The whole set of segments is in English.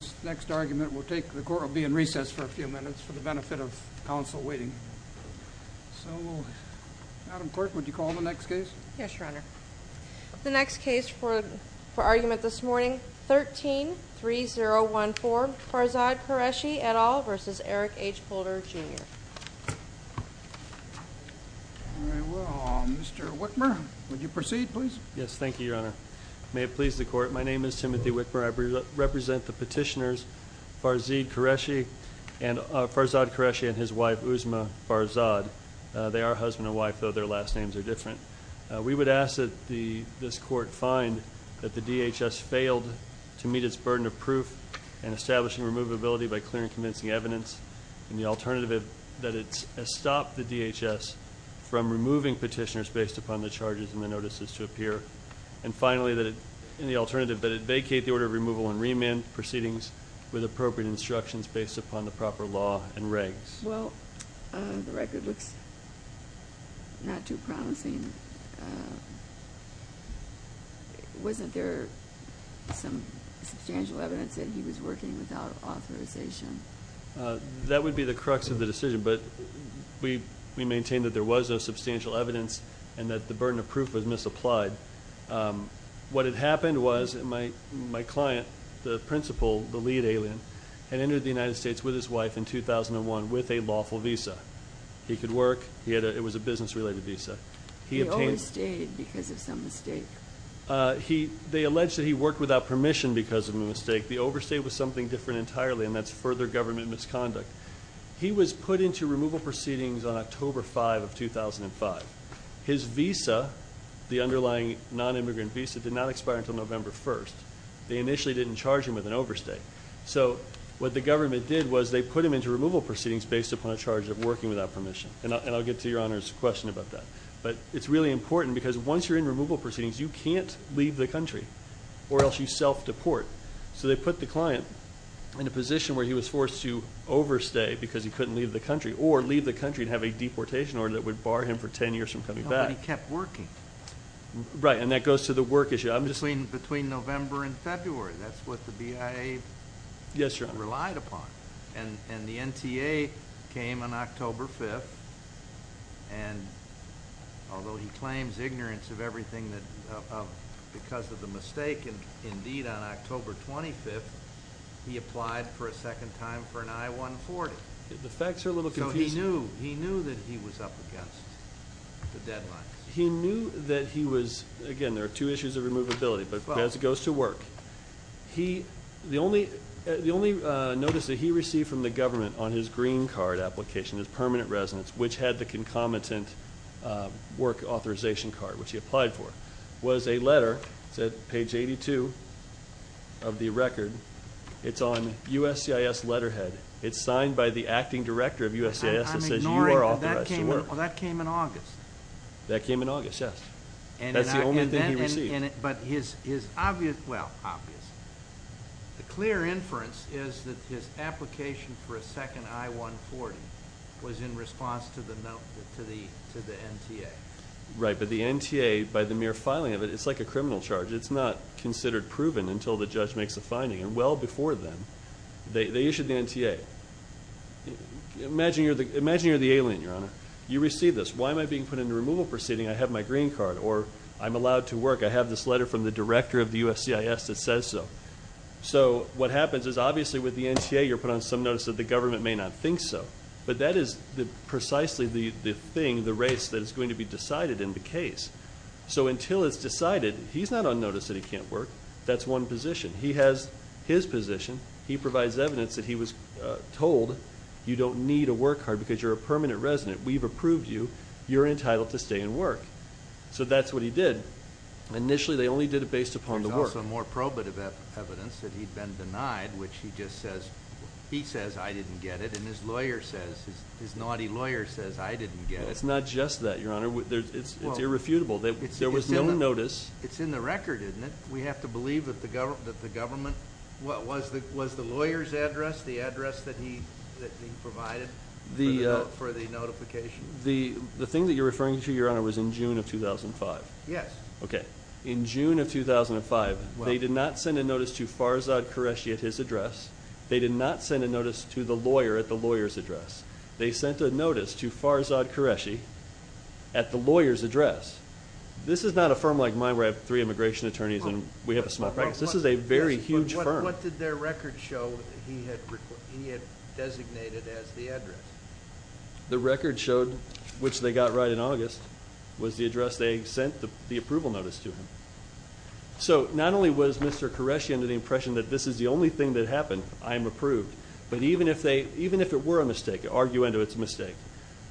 The next case for argument this morning, 13-3014, Farzad Qureshi, et al. v. Eric H. Holder, Jr. Alright, well, Mr. Whitmer, would you proceed, please? Yes, thank you, Your Honor. May it please the Court, my name is Timothy Whitmer. I represent the petitioners Farzad Qureshi and his wife, Uzma Farzad. They are husband and wife, though their last names are different. We would ask that this Court find that the DHS failed to meet its burden of proof in establishing removability by clear and convincing evidence. In the alternative, that it has stopped the DHS from removing petitioners based upon the charges and the notices to appear. And finally, in the alternative, that it vacate the order of removal and remand proceedings with appropriate instructions based upon the proper law and regs. Well, the record looks not too promising. Wasn't there some substantial evidence that he was working without authorization? That would be the crux of the decision, but we maintain that there was no substantial evidence and that the burden of proof was misapplied. What had happened was my client, the principal, the lead alien, had entered the United States with his wife in 2001 with a lawful visa. He could work, it was a business-related visa. He overstayed because of some mistake. They allege that he worked without permission because of a mistake. The overstay was something different entirely, and that's further government misconduct. He was put into removal proceedings on October 5 of 2005. His visa, the underlying non-immigrant visa, did not expire until November 1. They initially didn't charge him with an overstay. So what the government did was they put him into removal proceedings based upon a charge of working without permission. And I'll get to Your Honor's question about that. But it's really important because once you're in removal proceedings, you can't leave the country or else you self-deport. So they put the client in a position where he was forced to overstay because he couldn't leave the country or leave the country and have a deportation order that would bar him for 10 years from coming back. But he kept working. Right, and that goes to the work issue. Between November and February, that's what the BIA relied upon. And the NTA came on October 5, and although he claims ignorance of everything because of the mistake, and indeed on October 25, he applied for a second time for an I-140. The facts are a little confusing. So he knew that he was up against the deadline. He knew that he was, again, there are two issues of removability. But as it goes to work, the only notice that he received from the government on his green card application, his permanent residence, which had the concomitant work authorization card, which he applied for, was a letter that said, page 82 of the record, it's on USCIS letterhead. It's signed by the acting director of USCIS that says you are authorized to work. I'm ignoring that. That came in August. That came in August, yes. That's the only thing he received. But his obvious, well, obvious, the clear inference is that his application for a second I-140 was in response to the NTA. Right, but the NTA, by the mere filing of it, it's like a criminal charge. It's not considered proven until the judge makes a finding. And well before then, they issued the NTA. Imagine you're the alien, Your Honor. You receive this. Why am I being put into removal proceeding? I have my green card. Or I'm allowed to work. I have this letter from the director of the USCIS that says so. So what happens is obviously with the NTA, you're put on some notice that the government may not think so. But that is precisely the thing, the race, that is going to be decided in the case. So until it's decided, he's not on notice that he can't work. That's one position. He has his position. He provides evidence that he was told you don't need a work card because you're a permanent resident. We've approved you. You're entitled to stay and work. So that's what he did. Initially, they only did it based upon the work. There's also more probative evidence that he'd been denied, which he just says, he says I didn't get it. And his lawyer says, his naughty lawyer says I didn't get it. It's not just that, Your Honor. It's irrefutable. There was no notice. It's in the record, isn't it? We have to believe that the government, was the lawyer's address the address that he provided for the notification? The thing that you're referring to, Your Honor, was in June of 2005. Yes. Okay. In June of 2005, they did not send a notice to Farzad Qureshi at his address. They did not send a notice to the lawyer at the lawyer's address. They sent a notice to Farzad Qureshi at the lawyer's address. This is not a firm like mine where I have three immigration attorneys and we have a small practice. This is a very huge firm. What did their record show that he had designated as the address? The record showed, which they got right in August, was the address they sent the approval notice to him. So, not only was Mr. Qureshi under the impression that this is the only thing that happened, I am approved, but even if it were a mistake, arguendo it's a mistake,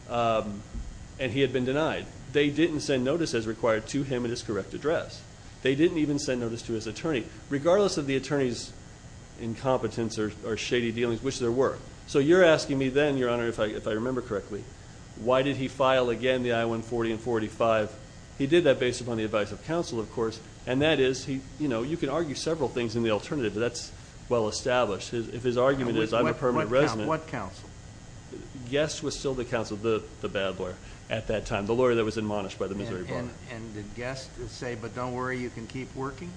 and he had been denied, they didn't send notice as required to him at his correct address. They didn't even send notice to his attorney, regardless of the attorney's incompetence or shady dealings, which there were. So you're asking me then, Your Honor, if I remember correctly, why did he file again the I-140 and I-45? He did that based upon the advice of counsel, of course, and that is, you know, you can argue several things in the alternative, but that's well established. If his argument is, I'm a permanent resident. What counsel? Guest was still the counsel, the bad lawyer at that time, the lawyer that was admonished by the Missouri Bar. And did Guest say, but don't worry, you can keep working?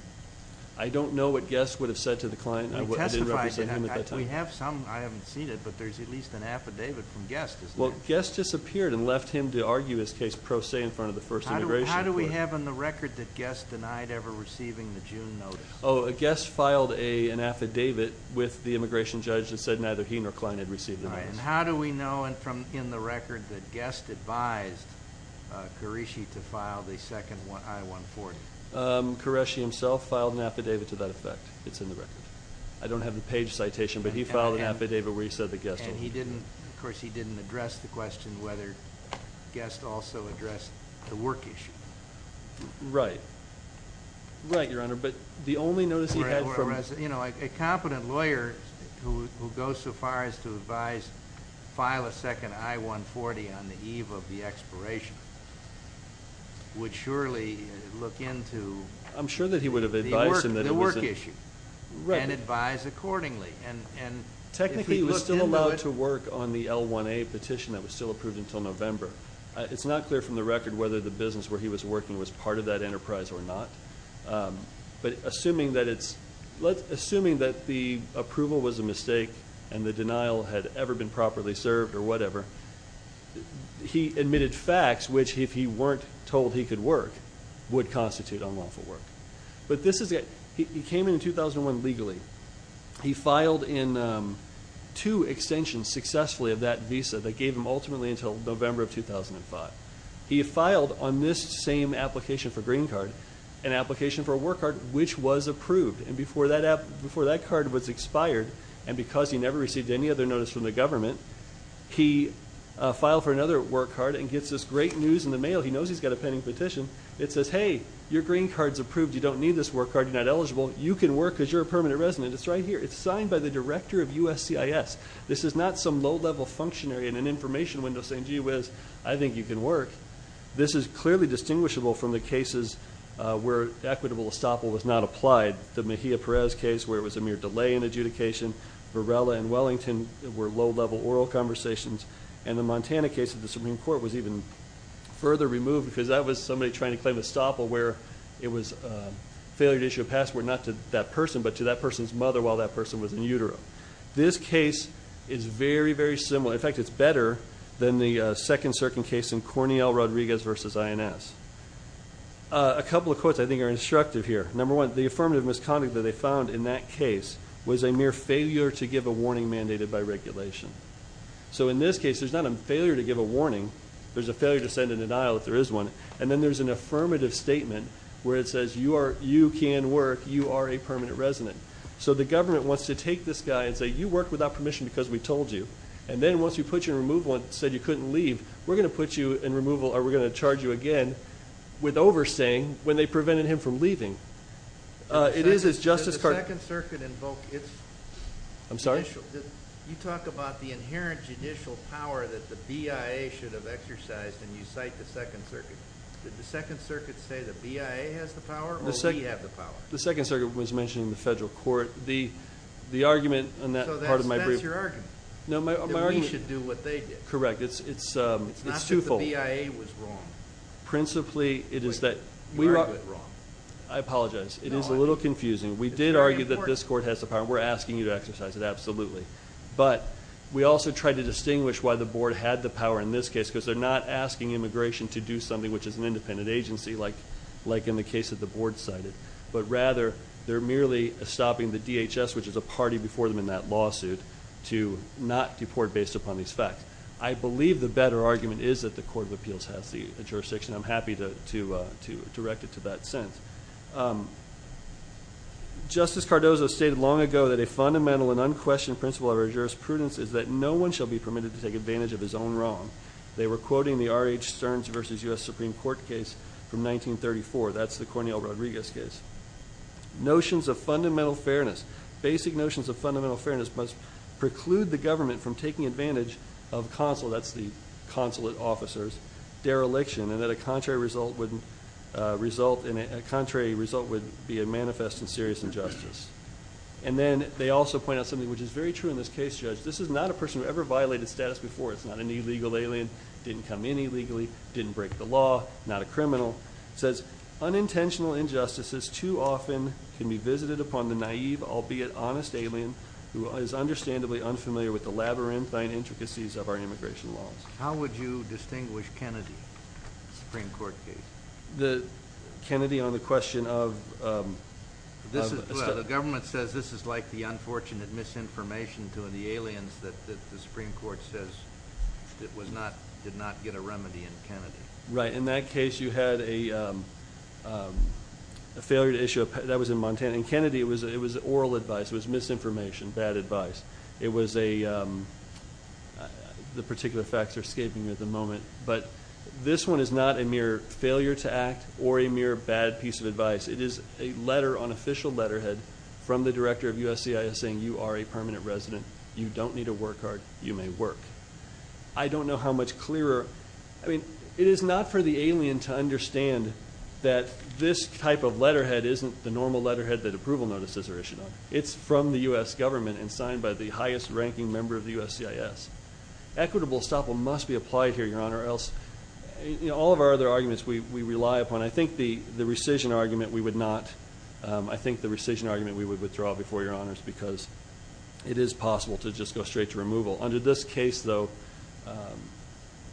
I don't know what Guest would have said to the client. I didn't represent him at that time. We have some. I haven't seen it, but there's at least an affidavit from Guest, isn't there? Well, Guest disappeared and left him to argue his case pro se in front of the first immigration court. How do we have in the record that Guest denied ever receiving the June notice? Oh, Guest filed an affidavit with the immigration judge that said neither he nor the client had received the notice. All right, and how do we know in the record that Guest advised Qureshi to file the second I-140? Qureshi himself filed an affidavit to that effect. It's in the record. I don't have the page citation, but he filed an affidavit where he said that Guest only. And he didn't, of course, he didn't address the question whether Guest also addressed the work issue. Right. Right, Your Honor, but the only notice he had from- You know, a competent lawyer who goes so far as to advise file a second I-140 on the eve of the expiration would surely look into- I'm sure that he would have advised him that it was- The work issue. Right. And advise accordingly. Technically, he was still allowed to work on the L-1A petition that was still approved until November. It's not clear from the record whether the business where he was working was part of that enterprise or not. But assuming that it's- Assuming that the approval was a mistake and the denial had ever been properly served or whatever, he admitted facts which, if he weren't told he could work, would constitute unlawful work. But this is- He came in 2001 legally. He filed in two extensions successfully of that visa that gave him ultimately until November of 2005. He filed on this same application for green card, an application for a work card, which was approved. And before that card was expired and because he never received any other notice from the government, he filed for another work card and gets this great news in the mail. He knows he's got a pending petition. It says, hey, your green card's approved. You don't need this work card. You're not eligible. You can work because you're a permanent resident. It's right here. It's signed by the director of USCIS. This is not some low-level functionary in an information window saying, gee whiz, I think you can work. This is clearly distinguishable from the cases where equitable estoppel was not applied. The Mejia Perez case where it was a mere delay in adjudication, Varela and Wellington were low-level oral conversations, and the Montana case of the Supreme Court was even further removed because that was somebody trying to claim estoppel where it was a failure to issue a passport not to that person but to that person's mother while that person was in utero. This case is very, very similar. In fact, it's better than the second certain case in Cornell Rodriguez v. INS. A couple of quotes I think are instructive here. Number one, the affirmative misconduct that they found in that case was a mere failure to give a warning mandated by regulation. So in this case, there's not a failure to give a warning. There's a failure to send a denial if there is one. And then there's an affirmative statement where it says you can work, you are a permanent resident. So the government wants to take this guy and say, you worked without permission because we told you. And then once we put you in removal and said you couldn't leave, we're going to put you in removal or we're going to charge you again with overstaying when they prevented him from leaving. It is as Justice Carter- The Second Circuit invoked its- I'm sorry? You talk about the inherent judicial power that the BIA should have exercised and you cite the Second Circuit. Did the Second Circuit say the BIA has the power or we have the power? The Second Circuit was mentioning the federal court. The argument on that part of my brief- So that's your argument. No, my argument- That we should do what they did. Correct. It's twofold. It's not that the BIA was wrong. Principally, it is that- You argued it wrong. I apologize. It is a little confusing. It's very important. We did argue that this court has the power. We're asking you to exercise it, absolutely. But we also tried to distinguish why the board had the power in this case because they're not asking immigration to do something which is an independent agency like in the case that the board cited. But rather, they're merely stopping the DHS, which is a party before them in that lawsuit, to not deport based upon these facts. I believe the better argument is that the Court of Appeals has the jurisdiction. I'm happy to direct it to that sentence. Justice Cardozo stated long ago that a fundamental and unquestioned principle of our jurisprudence is that no one shall be permitted to take advantage of his own wrong. They were quoting the R.H. Stearns v. U.S. Supreme Court case from 1934. That's the Cornell Rodriguez case. Notions of fundamental fairness, basic notions of fundamental fairness, must preclude the government from taking advantage of consulate, that's the consulate officers, dereliction, and that a contrary result would be a manifest and serious injustice. And then they also point out something which is very true in this case, Judge. This is not a person who ever violated status before. It's not an illegal alien, didn't come in illegally, didn't break the law, not a criminal. It says, unintentional injustices too often can be visited upon the naive, albeit honest alien who is understandably unfamiliar with the labyrinthine intricacies of our immigration laws. How would you distinguish Kennedy in the Supreme Court case? Kennedy on the question of... The government says this is like the unfortunate misinformation to the aliens that the Supreme Court says did not get a remedy in Kennedy. Right. In that case, you had a failure to issue... That was in Montana. In Kennedy, it was oral advice. It was misinformation, bad advice. It was a... The particular facts are escaping me at the moment. But this one is not a mere failure to act or a mere bad piece of advice. It is a letter, unofficial letterhead, from the director of USCIS saying, you are a permanent resident. You don't need to work hard. You may work. I don't know how much clearer... I mean, it is not for the alien to understand that this type of letterhead isn't the normal letterhead that approval notices are issued on. It's from the U.S. government and signed by the highest-ranking member of the USCIS. Equitable estoppel must be applied here, Your Honor, or else all of our other arguments we rely upon. I think the rescission argument we would not... I think the rescission argument we would withdraw before Your Honors because it is possible to just go straight to removal. Under this case, though,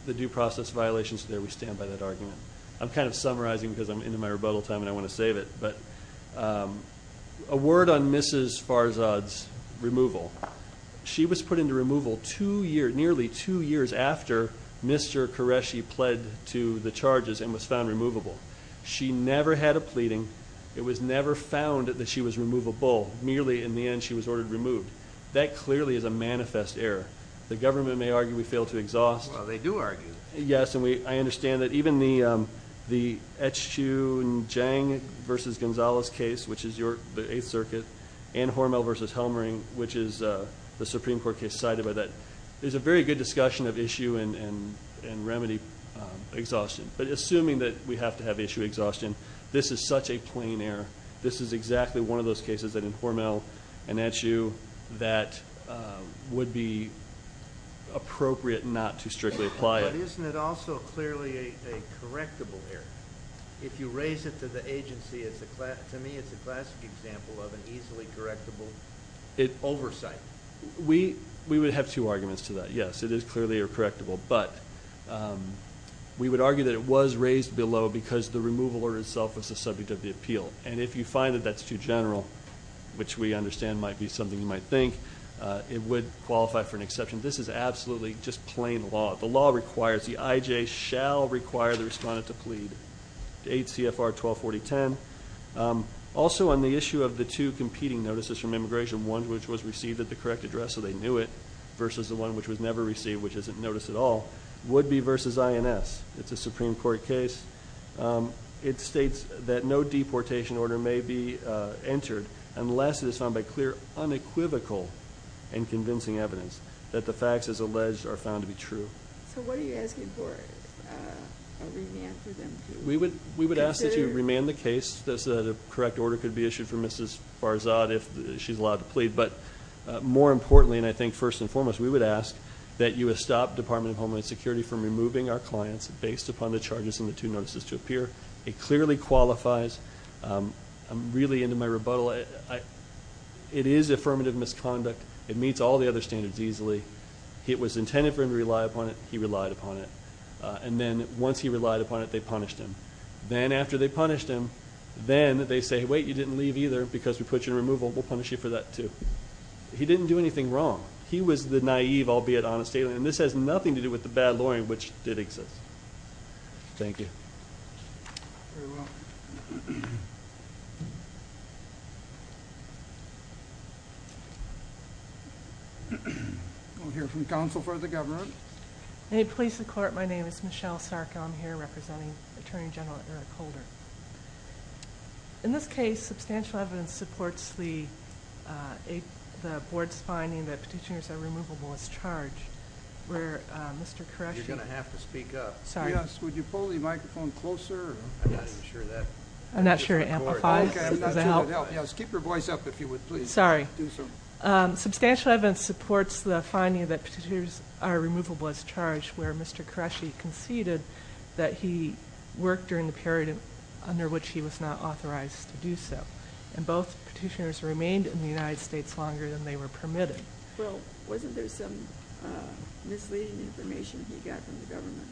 the due process violations there, we stand by that argument. I'm kind of summarizing because I'm into my rebuttal time and I want to save it. But a word on Mrs. Farzad's removal. She was put into removal nearly two years after Mr. Qureshi pled to the charges and was found removable. She never had a pleading. It was never found that she was removable. Merely, in the end, she was ordered removed. That clearly is a manifest error. The government may argue we fail to exhaust. Well, they do argue. Yes, and I understand that even the Etchew and Jang v. Gonzalez case, which is the Eighth Circuit, and Hormel v. Helmering, which is the Supreme Court case cited by that, there's a very good discussion of issue and remedy exhaustion. But assuming that we have to have issue exhaustion, this is such a plain error. This is exactly one of those cases that in Hormel and Etchew that would be appropriate not to strictly apply it. But isn't it also clearly a correctable error? If you raise it to the agency, to me, it's a classic example of an easily correctable oversight. We would have two arguments to that. Yes, it is clearly a correctable, but we would argue that it was raised below because the removal order itself was the subject of the appeal. And if you find that that's too general, which we understand might be something you might think, it would qualify for an exception. This is absolutely just plain law. The law requires, the IJ shall require the respondent to plead, 8 CFR 124010. Also on the issue of the two competing notices from immigration, one which was received at the correct address so they knew it versus the one which was never received, which isn't noticed at all, would be versus INS. It's a Supreme Court case. It states that no deportation order may be entered unless it is found by clear unequivocal and convincing evidence that the facts as alleged are found to be true. So what are you asking for a remand for them to consider? We would ask that you remand the case so that a correct order could be issued for Mrs. Farzad if she's allowed to plead. But more importantly, and I think first and foremost, we would ask that you stop Department of Homeland Security from removing our It clearly qualifies. I'm really into my rebuttal. It is affirmative misconduct. It meets all the other standards easily. It was intended for him to rely upon it. He relied upon it. And then once he relied upon it, they punished him. Then after they punished him, then they say, wait, you didn't leave either, because we put you in removal. We'll punish you for that too. He didn't do anything wrong. He was the naive, albeit honest alien. And this has nothing to do with the bad lawyering, which did exist. Thank you. You're welcome. We'll hear from counsel for the government. May it please the court, my name is Michelle Sarko. I'm here representing Attorney General Eric Holder. In this case, substantial evidence supports the board's finding that Petitioner's Irremovable was charged, where Mr. Koresh… You're going to have to speak up. Sorry. Yes, would you pull the microphone closer? I'm not even sure that… I'm not sure it amplifies. Okay, I'm not sure it would help. Yes, keep your voice up, if you would, please. Sorry. Substantial evidence supports the finding that Petitioner's Irremovable was charged, where Mr. Koresh conceded that he worked during the period under which he was not authorized to do so. And both Petitioners remained in the United States longer than they were permitted. Well, wasn't there some misleading information he got from the government?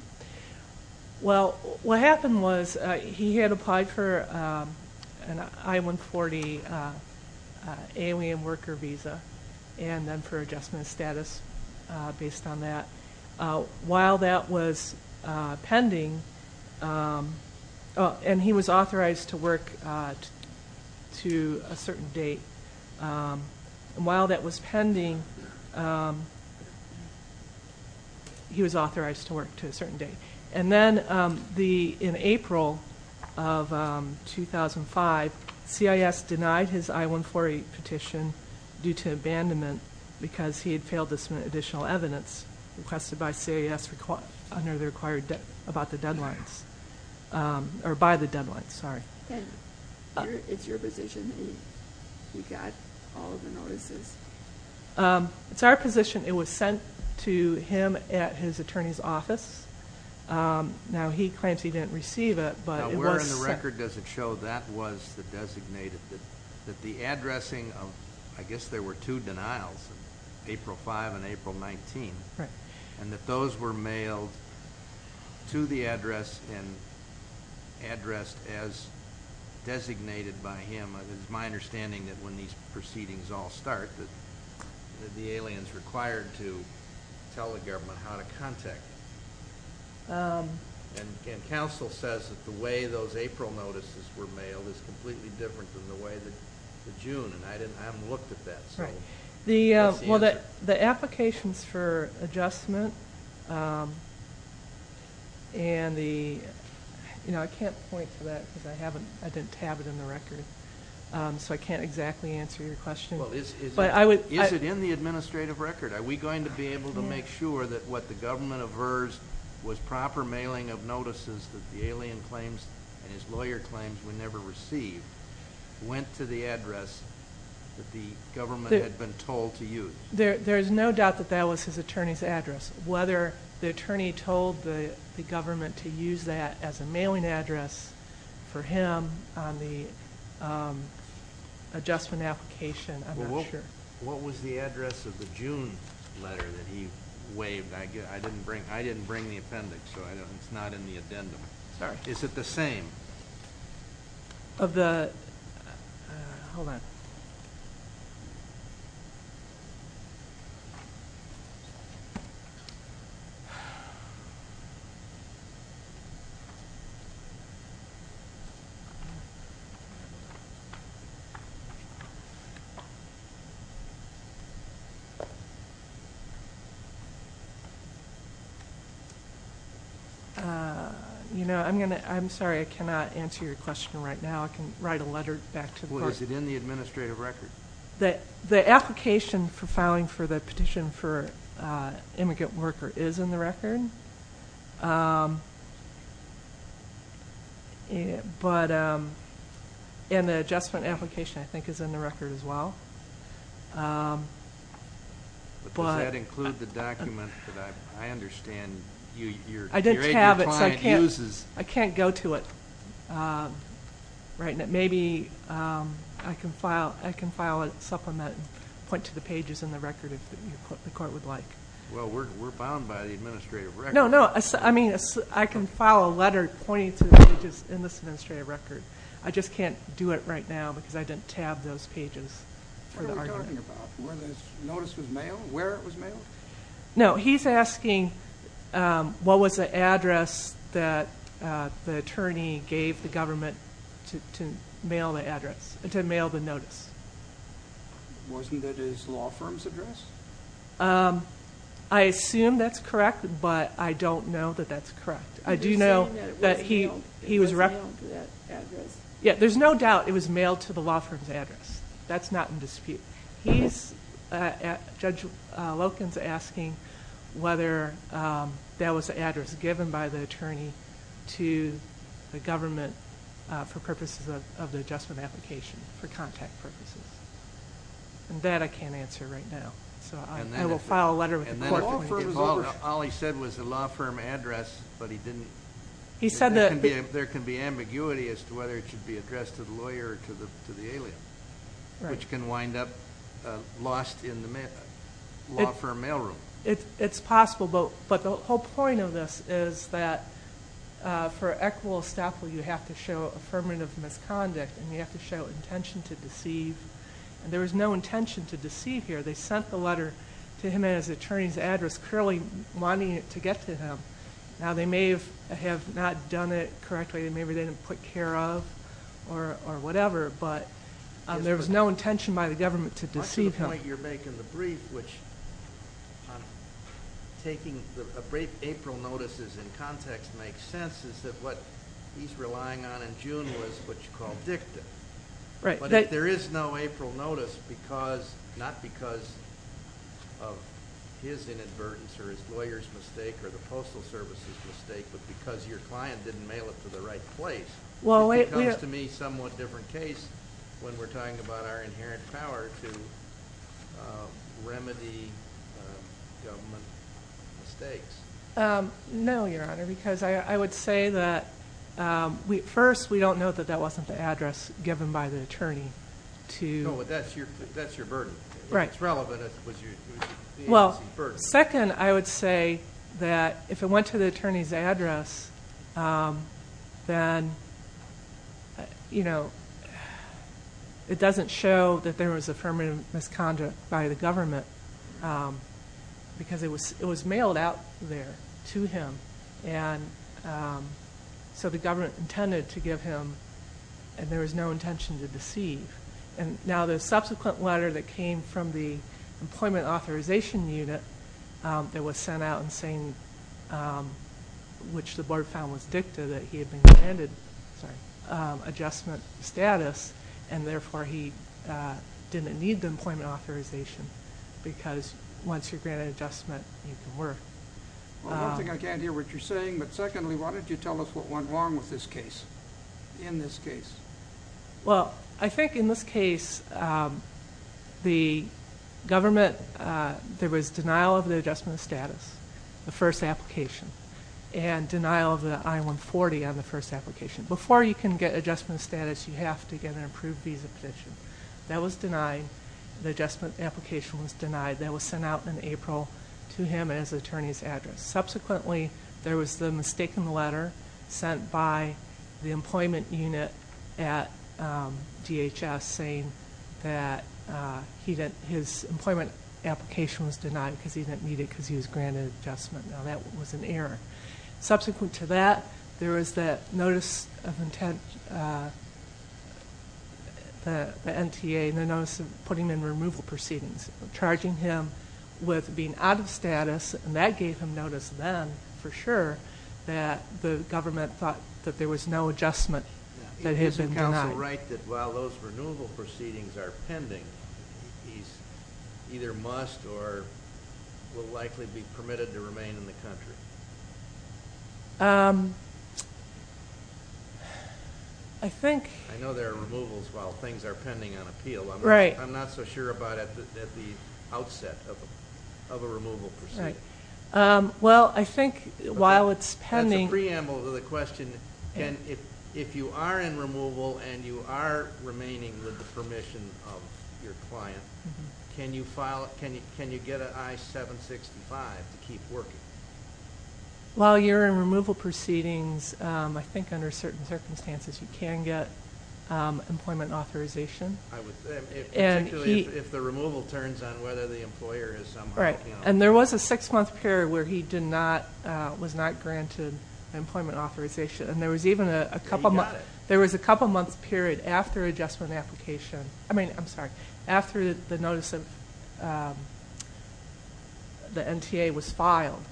Well, what happened was he had applied for an I-140 alien worker visa, and then for adjustment of status based on that. While that was pending, and he was authorized to work to a certain date, and while that was pending, he was authorized to work to a certain date. And then in April of 2005, CIS denied his I-140 petition due to abandonment because he had failed to submit additional evidence requested by CIS under the required… about the deadlines, or by the deadlines, sorry. And it's your position that he got all of the notices? It's our position it was sent to him at his attorney's office. Now, he claims he didn't receive it, but it was sent… Now, where in the record does it show that was the designated, that the addressing of, I guess there were two denials, April 5 and April 19, and that those were mailed to the address and addressed as designated by him. It is my understanding that when these proceedings all start, that the alien is required to tell the government how to contact him. And counsel says that the way those April notices were mailed is completely different than the way that the June, and I haven't looked at that. Well, the applications for adjustment and the… I can't point to that because I didn't have it in the record, so I can't exactly answer your question. Is it in the administrative record? Are we going to be able to make sure that what the government aversed was proper mailing of notices that the alien claims and his lawyer claims were never received, went to the address that the government had been told to use? There is no doubt that that was his attorney's address. Whether the attorney told the government to use that as a mailing address for him on the adjustment application, I'm not sure. What was the address of the June letter that he waived? I didn't bring the appendix, so it's not in the addendum. Is it the same? Of the…hold on. I'm sorry, I cannot answer your question right now. I can write a letter back to the board. Well, is it in the administrative record? The application for filing for the petition for immigrant worker is in the record. And the adjustment application, I think, is in the record as well. Does that include the document that I understand your client uses? I didn't have it, so I can't go to it. Maybe I can file a supplement and point to the pages in the record if the court would like. Well, we're bound by the administrative record. No, no. I mean, I can file a letter pointing to the pages in this administrative record. I just can't do it right now because I didn't tab those pages for the argument. What are we talking about? Where this notice was mailed? Where it was mailed? No, he's asking what was the address that the attorney gave the government to mail the notice. Wasn't it his law firm's address? I assume that's correct, but I don't know that that's correct. I do know that he was… It was mailed to that address? Yeah, there's no doubt it was mailed to the law firm's address. That's not in dispute. Judge Loken is asking whether that was the address given by the attorney to the government for purposes of the adjustment application, for contact purposes. That I can't answer right now. I will file a letter with the court. All he said was the law firm address, but he didn't... He said that... There can be ambiguity as to whether it should be addressed to the lawyer or to the alien, which can wind up lost in the law firm mail room. It's possible, but the whole point of this is that for equitable estoppel, you have to show affirmative misconduct, and you have to show intention to deceive. There was no intention to deceive here. They sent the letter to him at his attorney's address, clearly wanting it to get to him. Now, they may have not done it correctly. Maybe they didn't put care of or whatever. But there was no intention by the government to deceive him. Much of the point you're making in the brief, which taking April notices in context makes sense, is that what he's relying on in June was what you call dicta. But if there is no April notice, not because of his inadvertence or his lawyer's mistake or the Postal Service's mistake, but because your client didn't mail it to the right place, it becomes to me a somewhat different case when we're talking about our inherent power to remedy government mistakes. No, Your Honor, because I would say that first, we don't know that that wasn't the address given by the attorney. No, but that's your burden. If it's relevant, it was the agency's burden. Second, I would say that if it went to the attorney's address, then it doesn't show that there was affirmative misconduct by the government because it was mailed out there to him. So the government intended to give him, and there was no intention to deceive. And now the subsequent letter that came from the Employment Authorization Unit that was sent out and saying which the board found was dicta that he had been granted adjustment status and therefore he didn't need the employment authorization because once you're granted adjustment, you can work. Well, one thing I can't hear what you're saying, but secondly, why don't you tell us what went wrong with this case, in this case? Well, I think in this case, the government, there was denial of the adjustment status, the first application, and denial of the I-140 on the first application. Before you can get adjustment status, you have to get an approved visa petition. That was denied. The adjustment application was denied. That was sent out in April to him as the attorney's address. Subsequently, there was the mistaken letter sent by the Employment Unit at DHS saying that his employment application was denied because he didn't need it because he was granted adjustment. Now, that was an error. Subsequent to that, there was the notice of intent, the NTA, and the notice of putting in removal proceedings, charging him with being out of status, and that gave him notice then, for sure, that the government thought that there was no adjustment that had been denied. Is the counsel right that while those removal proceedings are pending, he either must or will likely be permitted to remain in the country? I know there are removals while things are pending on appeal. I'm not so sure about it at the outset of a removal proceeding. Right. Well, I think while it's pending— That's a preamble to the question. If you are in removal and you are remaining with the permission of your client, can you get an I-765 to keep working? While you're in removal proceedings, I think under certain circumstances you can get employment authorization. Particularly if the removal turns on whether the employer is somehow helping out. Right. And there was a six-month period where he was not granted employment authorization. And there was even a couple months— He got it. There was a couple months period after adjustment application—I mean, I'm sorry, after the notice of the NTA was filed,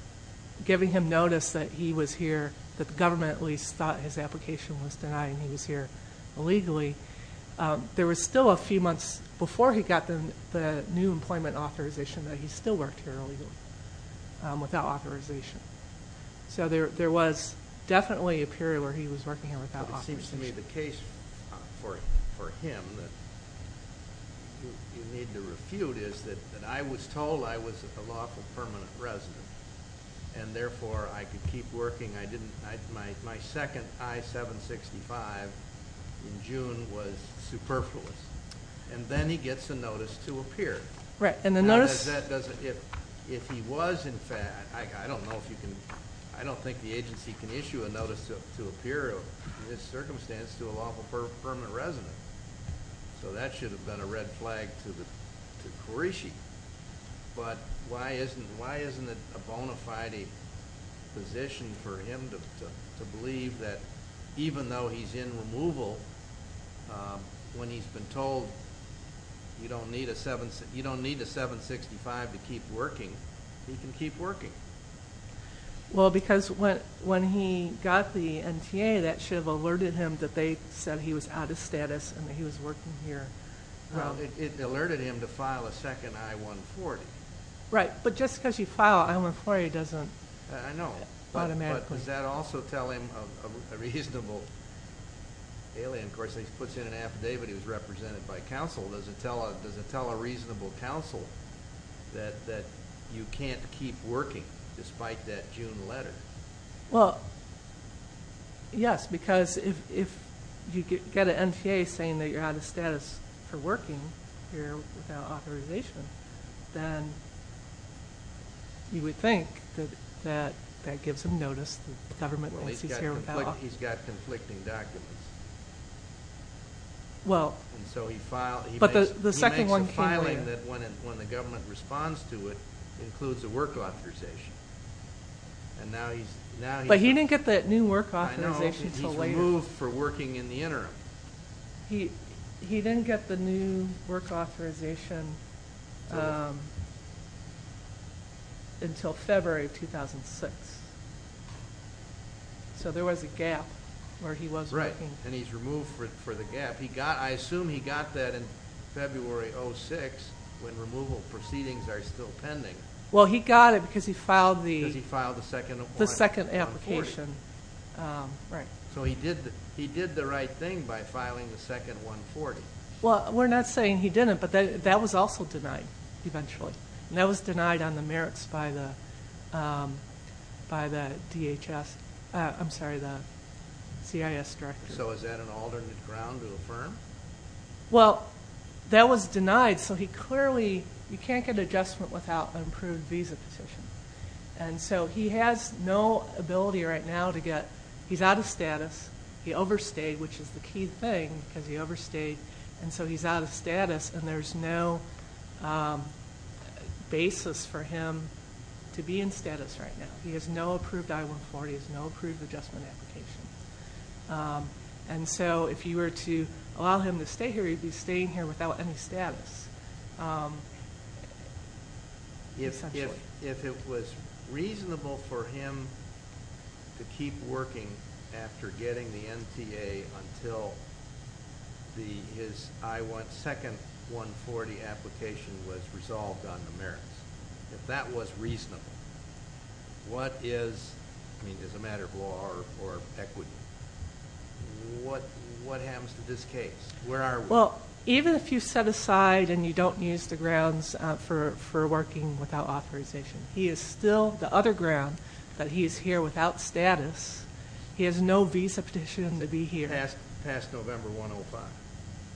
giving him notice that he was here, that the government at least thought his application was denied and he was here illegally. There was still a few months before he got the new employment authorization that he still worked here illegally without authorization. So there was definitely a period where he was working here without authorization. But it seems to me the case for him that you need to refute is that I was told I was a lawful permanent resident, and therefore I could keep working. My second I-765 in June was superfluous. And then he gets a notice to appear. Right. And the notice— If he was in fact—I don't know if you can—I don't think the agency can issue a notice to appear in this circumstance to a lawful permanent resident. So that should have been a red flag to Kirishi. But why isn't it a bona fide position for him to believe that even though he's in removal, when he's been told you don't need a 765 to keep working, he can keep working? Well, because when he got the NTA, that should have alerted him that they said he was out of status and that he was working here. Well, it alerted him to file a second I-140. Right. But just because you file an I-140 doesn't— I know. —automatically— But does that also tell him a reasonable—Haley, of course, he puts in an affidavit he was represented by counsel. Does it tell a reasonable counsel that you can't keep working despite that June letter? Well, yes, because if you get an NTA saying that you're out of status for working here without authorization, then you would think that that gives him notice that the government thinks he's here without— Well, he's got conflicting documents. Well— And so he filed— But the second one came later. —that when the government responds to it, includes a work authorization. And now he's— But he didn't get that new work authorization until later. I know. He's removed for working in the interim. He didn't get the new work authorization until February of 2006. So there was a gap where he was working. Right. And he's removed for the gap. I assume he got that in February of 2006 when removal proceedings are still pending. Well, he got it because he filed the— Because he filed the second— —the second application. Right. So he did the right thing by filing the second 140. Well, we're not saying he didn't, but that was also denied eventually. And that was denied on the merits by the DHS—I'm sorry, the CIS director. So is that an alternate ground to affirm? Well, that was denied, so he clearly— You can't get adjustment without an approved visa petition. And so he has no ability right now to get— He's out of status. He overstayed, which is the key thing, because he overstayed. And so he's out of status, and there's no basis for him to be in status right now. He has no approved I-140, he has no approved adjustment application. And so if you were to allow him to stay here, he'd be staying here without any status, essentially. If it was reasonable for him to keep working after getting the NTA until his second 140 application was resolved on the merits, if that was reasonable, what is—I mean, as a matter of law or equity, what happens to this case? Where are we? Well, even if you set aside and you don't use the grounds for working without authorization, he is still the other ground that he is here without status. He has no visa petition to be here. Past November 105.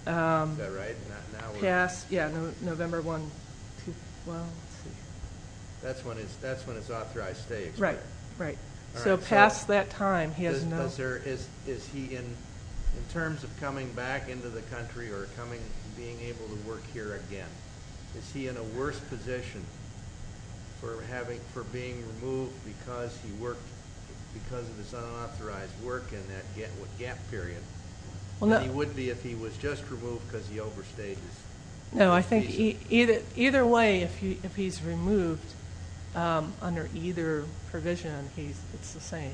Is that right? Yeah, November 1, 2012. That's when his authorized stay expired. Right, right. So past that time, he has no— Is he, in terms of coming back into the country or being able to work here again, is he in a worse position for being removed because he worked, because of his unauthorized work in that gap period than he would be if he was just removed because he overstayed his visa? No, I think either way, if he's removed under either provision, it's the same.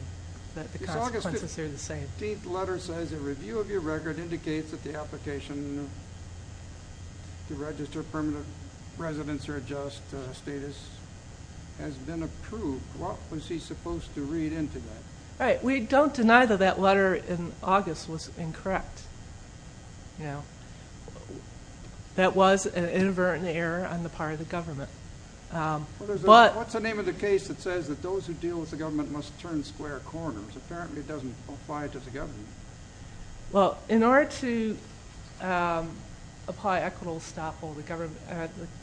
The consequences are the same. This August 15th letter says, A review of your record indicates that the application to register permanent residence or adjust status has been approved. What was he supposed to read into that? Right. We don't deny that that letter in August was incorrect. That was an inadvertent error on the part of the government. What's the name of the case that says that those who deal with the government must turn square corners? Apparently, it doesn't apply to the government. Well, in order to apply equitable stop, the court—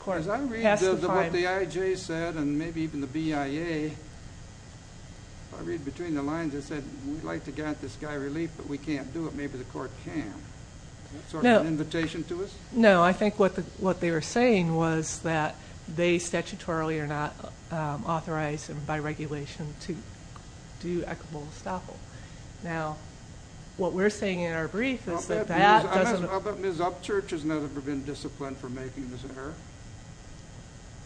Because I read what the IJ said and maybe even the BIA. If I read between the lines, it said, We'd like to grant this guy relief, but we can't do it. Maybe the court can. Is that sort of an invitation to us? No, I think what they were saying was that they statutorily are not authorized and by regulation to do equitable stop. Now, what we're saying in our brief is that that doesn't— Well, but Ms. Upchurch has never been disciplined for making this error.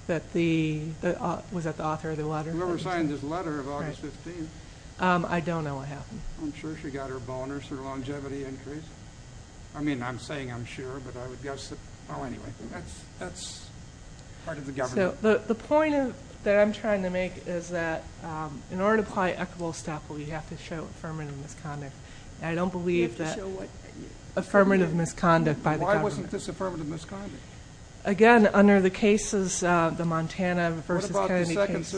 Was that the author of the letter? Whoever signed this letter of August 15th. I don't know what happened. I'm sure she got her bonus or longevity increase. I mean, I'm saying I'm sure, but I would guess that— Well, anyway, that's part of the government. The point that I'm trying to make is that in order to apply equitable stop, we have to show affirmative misconduct. I don't believe that— We have to show what? Affirmative misconduct by the government. Why wasn't this affirmative misconduct? Again, under the cases, the Montana v. Kennedy case.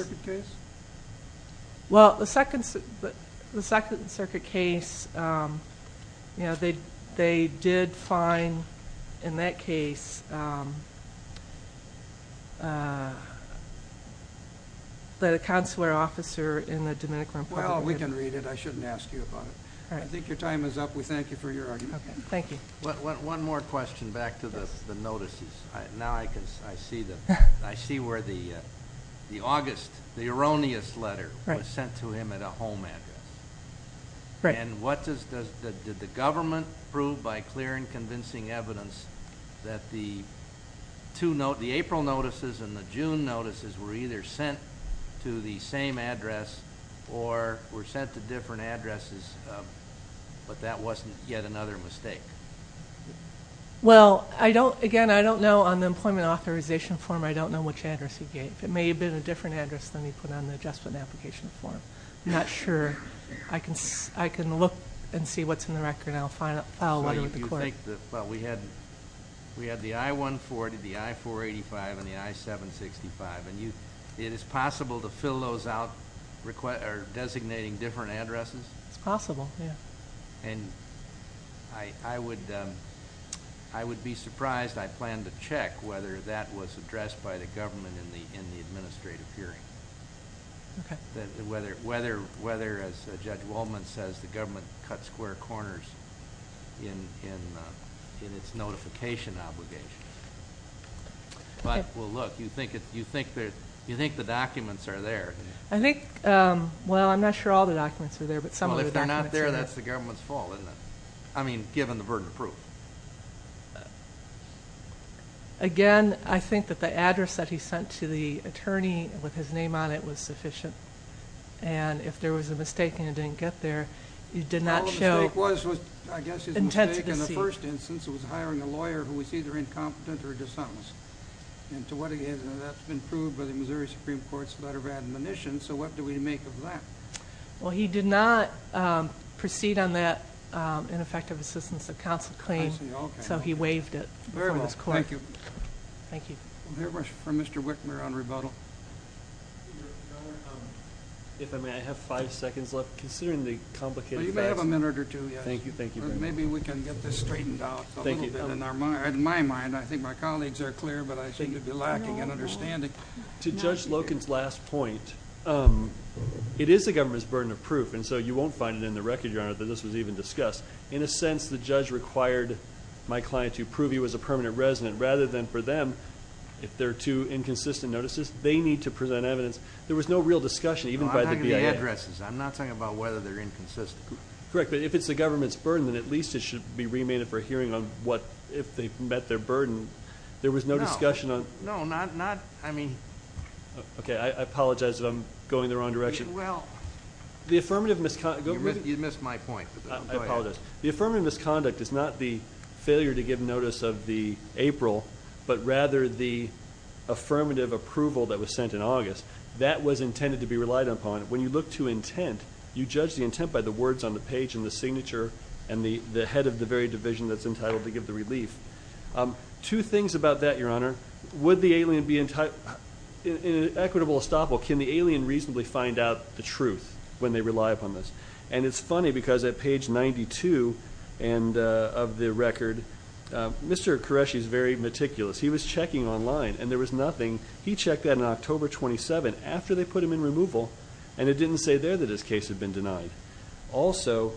Well, the Second Circuit case, they did find in that case that a consular officer in the Dominican Republic— Well, we can read it. I shouldn't ask you about it. All right. I think your time is up. We thank you for your argument. Okay, thank you. One more question back to the notices. Now I see where the erroneous letter was sent to him at a home address. Did the government prove by clear and convincing evidence that the April notices and the June notices were either sent to the same address or were sent to different addresses, but that wasn't yet another mistake? Well, again, I don't know. On the employment authorization form, I don't know which address he gave. It may have been a different address than he put on the adjustment application form. I'm not sure. I can look and see what's in the record, and I'll file a letter with the court. Well, we had the I-140, the I-485, and the I-765, and it is possible to fill those out designating different addresses? It's possible, yeah. I would be surprised. I plan to check whether that was addressed by the government in the administrative hearing. Okay. Whether, as Judge Wolman says, the government cut square corners in its notification obligations. Okay. Well, look, you think the documents are there. Well, I'm not sure all the documents are there, but some of the documents are there. That's the government's fault, isn't it? I mean, given the burden of proof. Again, I think that the address that he sent to the attorney with his name on it was sufficient, and if there was a mistake and it didn't get there, it did not show intensity. Well, the mistake was, I guess his mistake in the first instance was hiring a lawyer who was either incompetent or dishonest, and to what extent that's been proved by the Missouri Supreme Court's letter of admonition, so what do we make of that? Well, he did not proceed on that ineffective assistance of counsel claim, so he waived it before this court. Thank you. Thank you. We'll hear from Mr. Whitmer on rebuttal. If I may, I have five seconds left. Considering the complicated facts. You may have a minute or two, yes. Thank you, thank you. Maybe we can get this straightened out a little bit. Thank you. In my mind, I think my colleagues are clear, but I seem to be lacking in understanding. To Judge Loken's last point, it is the government's burden of proof, and so you won't find it in the record, Your Honor, that this was even discussed. In a sense, the judge required my client to prove he was a permanent resident rather than for them, if there are two inconsistent notices, they need to present evidence. There was no real discussion, even by the VA. I'm talking about addresses. I'm not talking about whether they're inconsistent. Correct, but if it's the government's burden, then at least it should be remanded for a hearing on what if they met their burden. There was no discussion on it. No, not, I mean. Okay, I apologize if I'm going the wrong direction. Well. The affirmative misconduct. You missed my point. I apologize. Go ahead. The affirmative misconduct is not the failure to give notice of the April, but rather the affirmative approval that was sent in August. That was intended to be relied upon. When you look to intent, you judge the intent by the words on the page and the signature and the head of the very division that's entitled to give the relief. Two things about that, Your Honor. Would the alien be in an equitable estoppel? Can the alien reasonably find out the truth when they rely upon this? And it's funny because at page 92 of the record, Mr. Qureshi is very meticulous. He was checking online, and there was nothing. He checked that on October 27 after they put him in removal, and it didn't say there that his case had been denied. Also,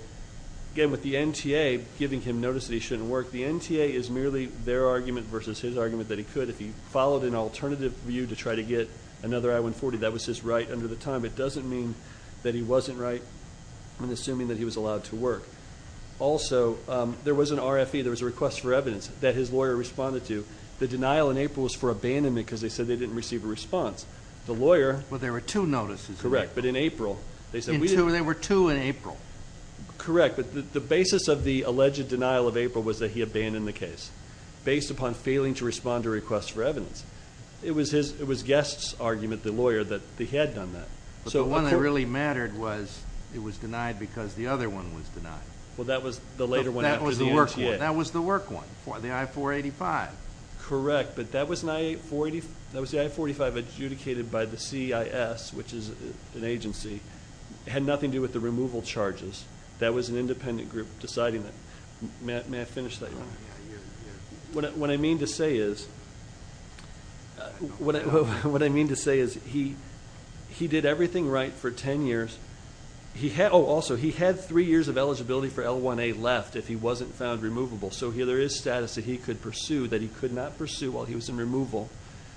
again, with the NTA giving him notice that he shouldn't work, the NTA is merely their argument versus his argument that he could. If he followed an alternative view to try to get another I-140, that was his right under the time. It doesn't mean that he wasn't right in assuming that he was allowed to work. Also, there was an RFE, there was a request for evidence, that his lawyer responded to. The denial in April was for abandonment because they said they didn't receive a response. The lawyer. Well, there were two notices. Correct, but in April. There were two in April. Correct. The basis of the alleged denial of April was that he abandoned the case based upon failing to respond to a request for evidence. It was Guest's argument, the lawyer, that he had done that. But the one that really mattered was it was denied because the other one was denied. Well, that was the later one after the NTA. That was the work one, the I-485. Correct, but that was the I-485 adjudicated by the CIS, which is an agency. It had nothing to do with the removal charges. That was an independent group deciding that. May I finish that? What I mean to say is he did everything right for ten years. Also, he had three years of eligibility for L-1A left if he wasn't found removable. So there is status that he could pursue that he could not pursue while he was in removal.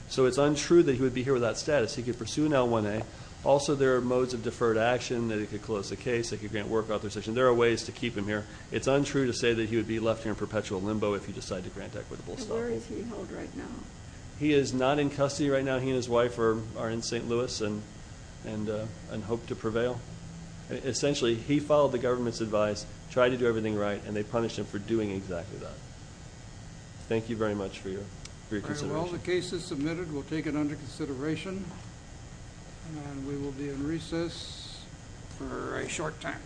So it's untrue that he would be here without status. He could pursue an L-1A. Also, there are modes of deferred action. They could close the case. They could grant work authorization. There are ways to keep him here. It's untrue to say that he would be left here in perpetual limbo if he decided to grant equitable status. So where is he held right now? He is not in custody right now. He and his wife are in St. Louis and hope to prevail. Essentially, he followed the government's advice, tried to do everything right, and they punished him for doing exactly that. Thank you very much for your consideration. Well, the case is submitted. We'll take it under consideration. And we will be in recess for a short time.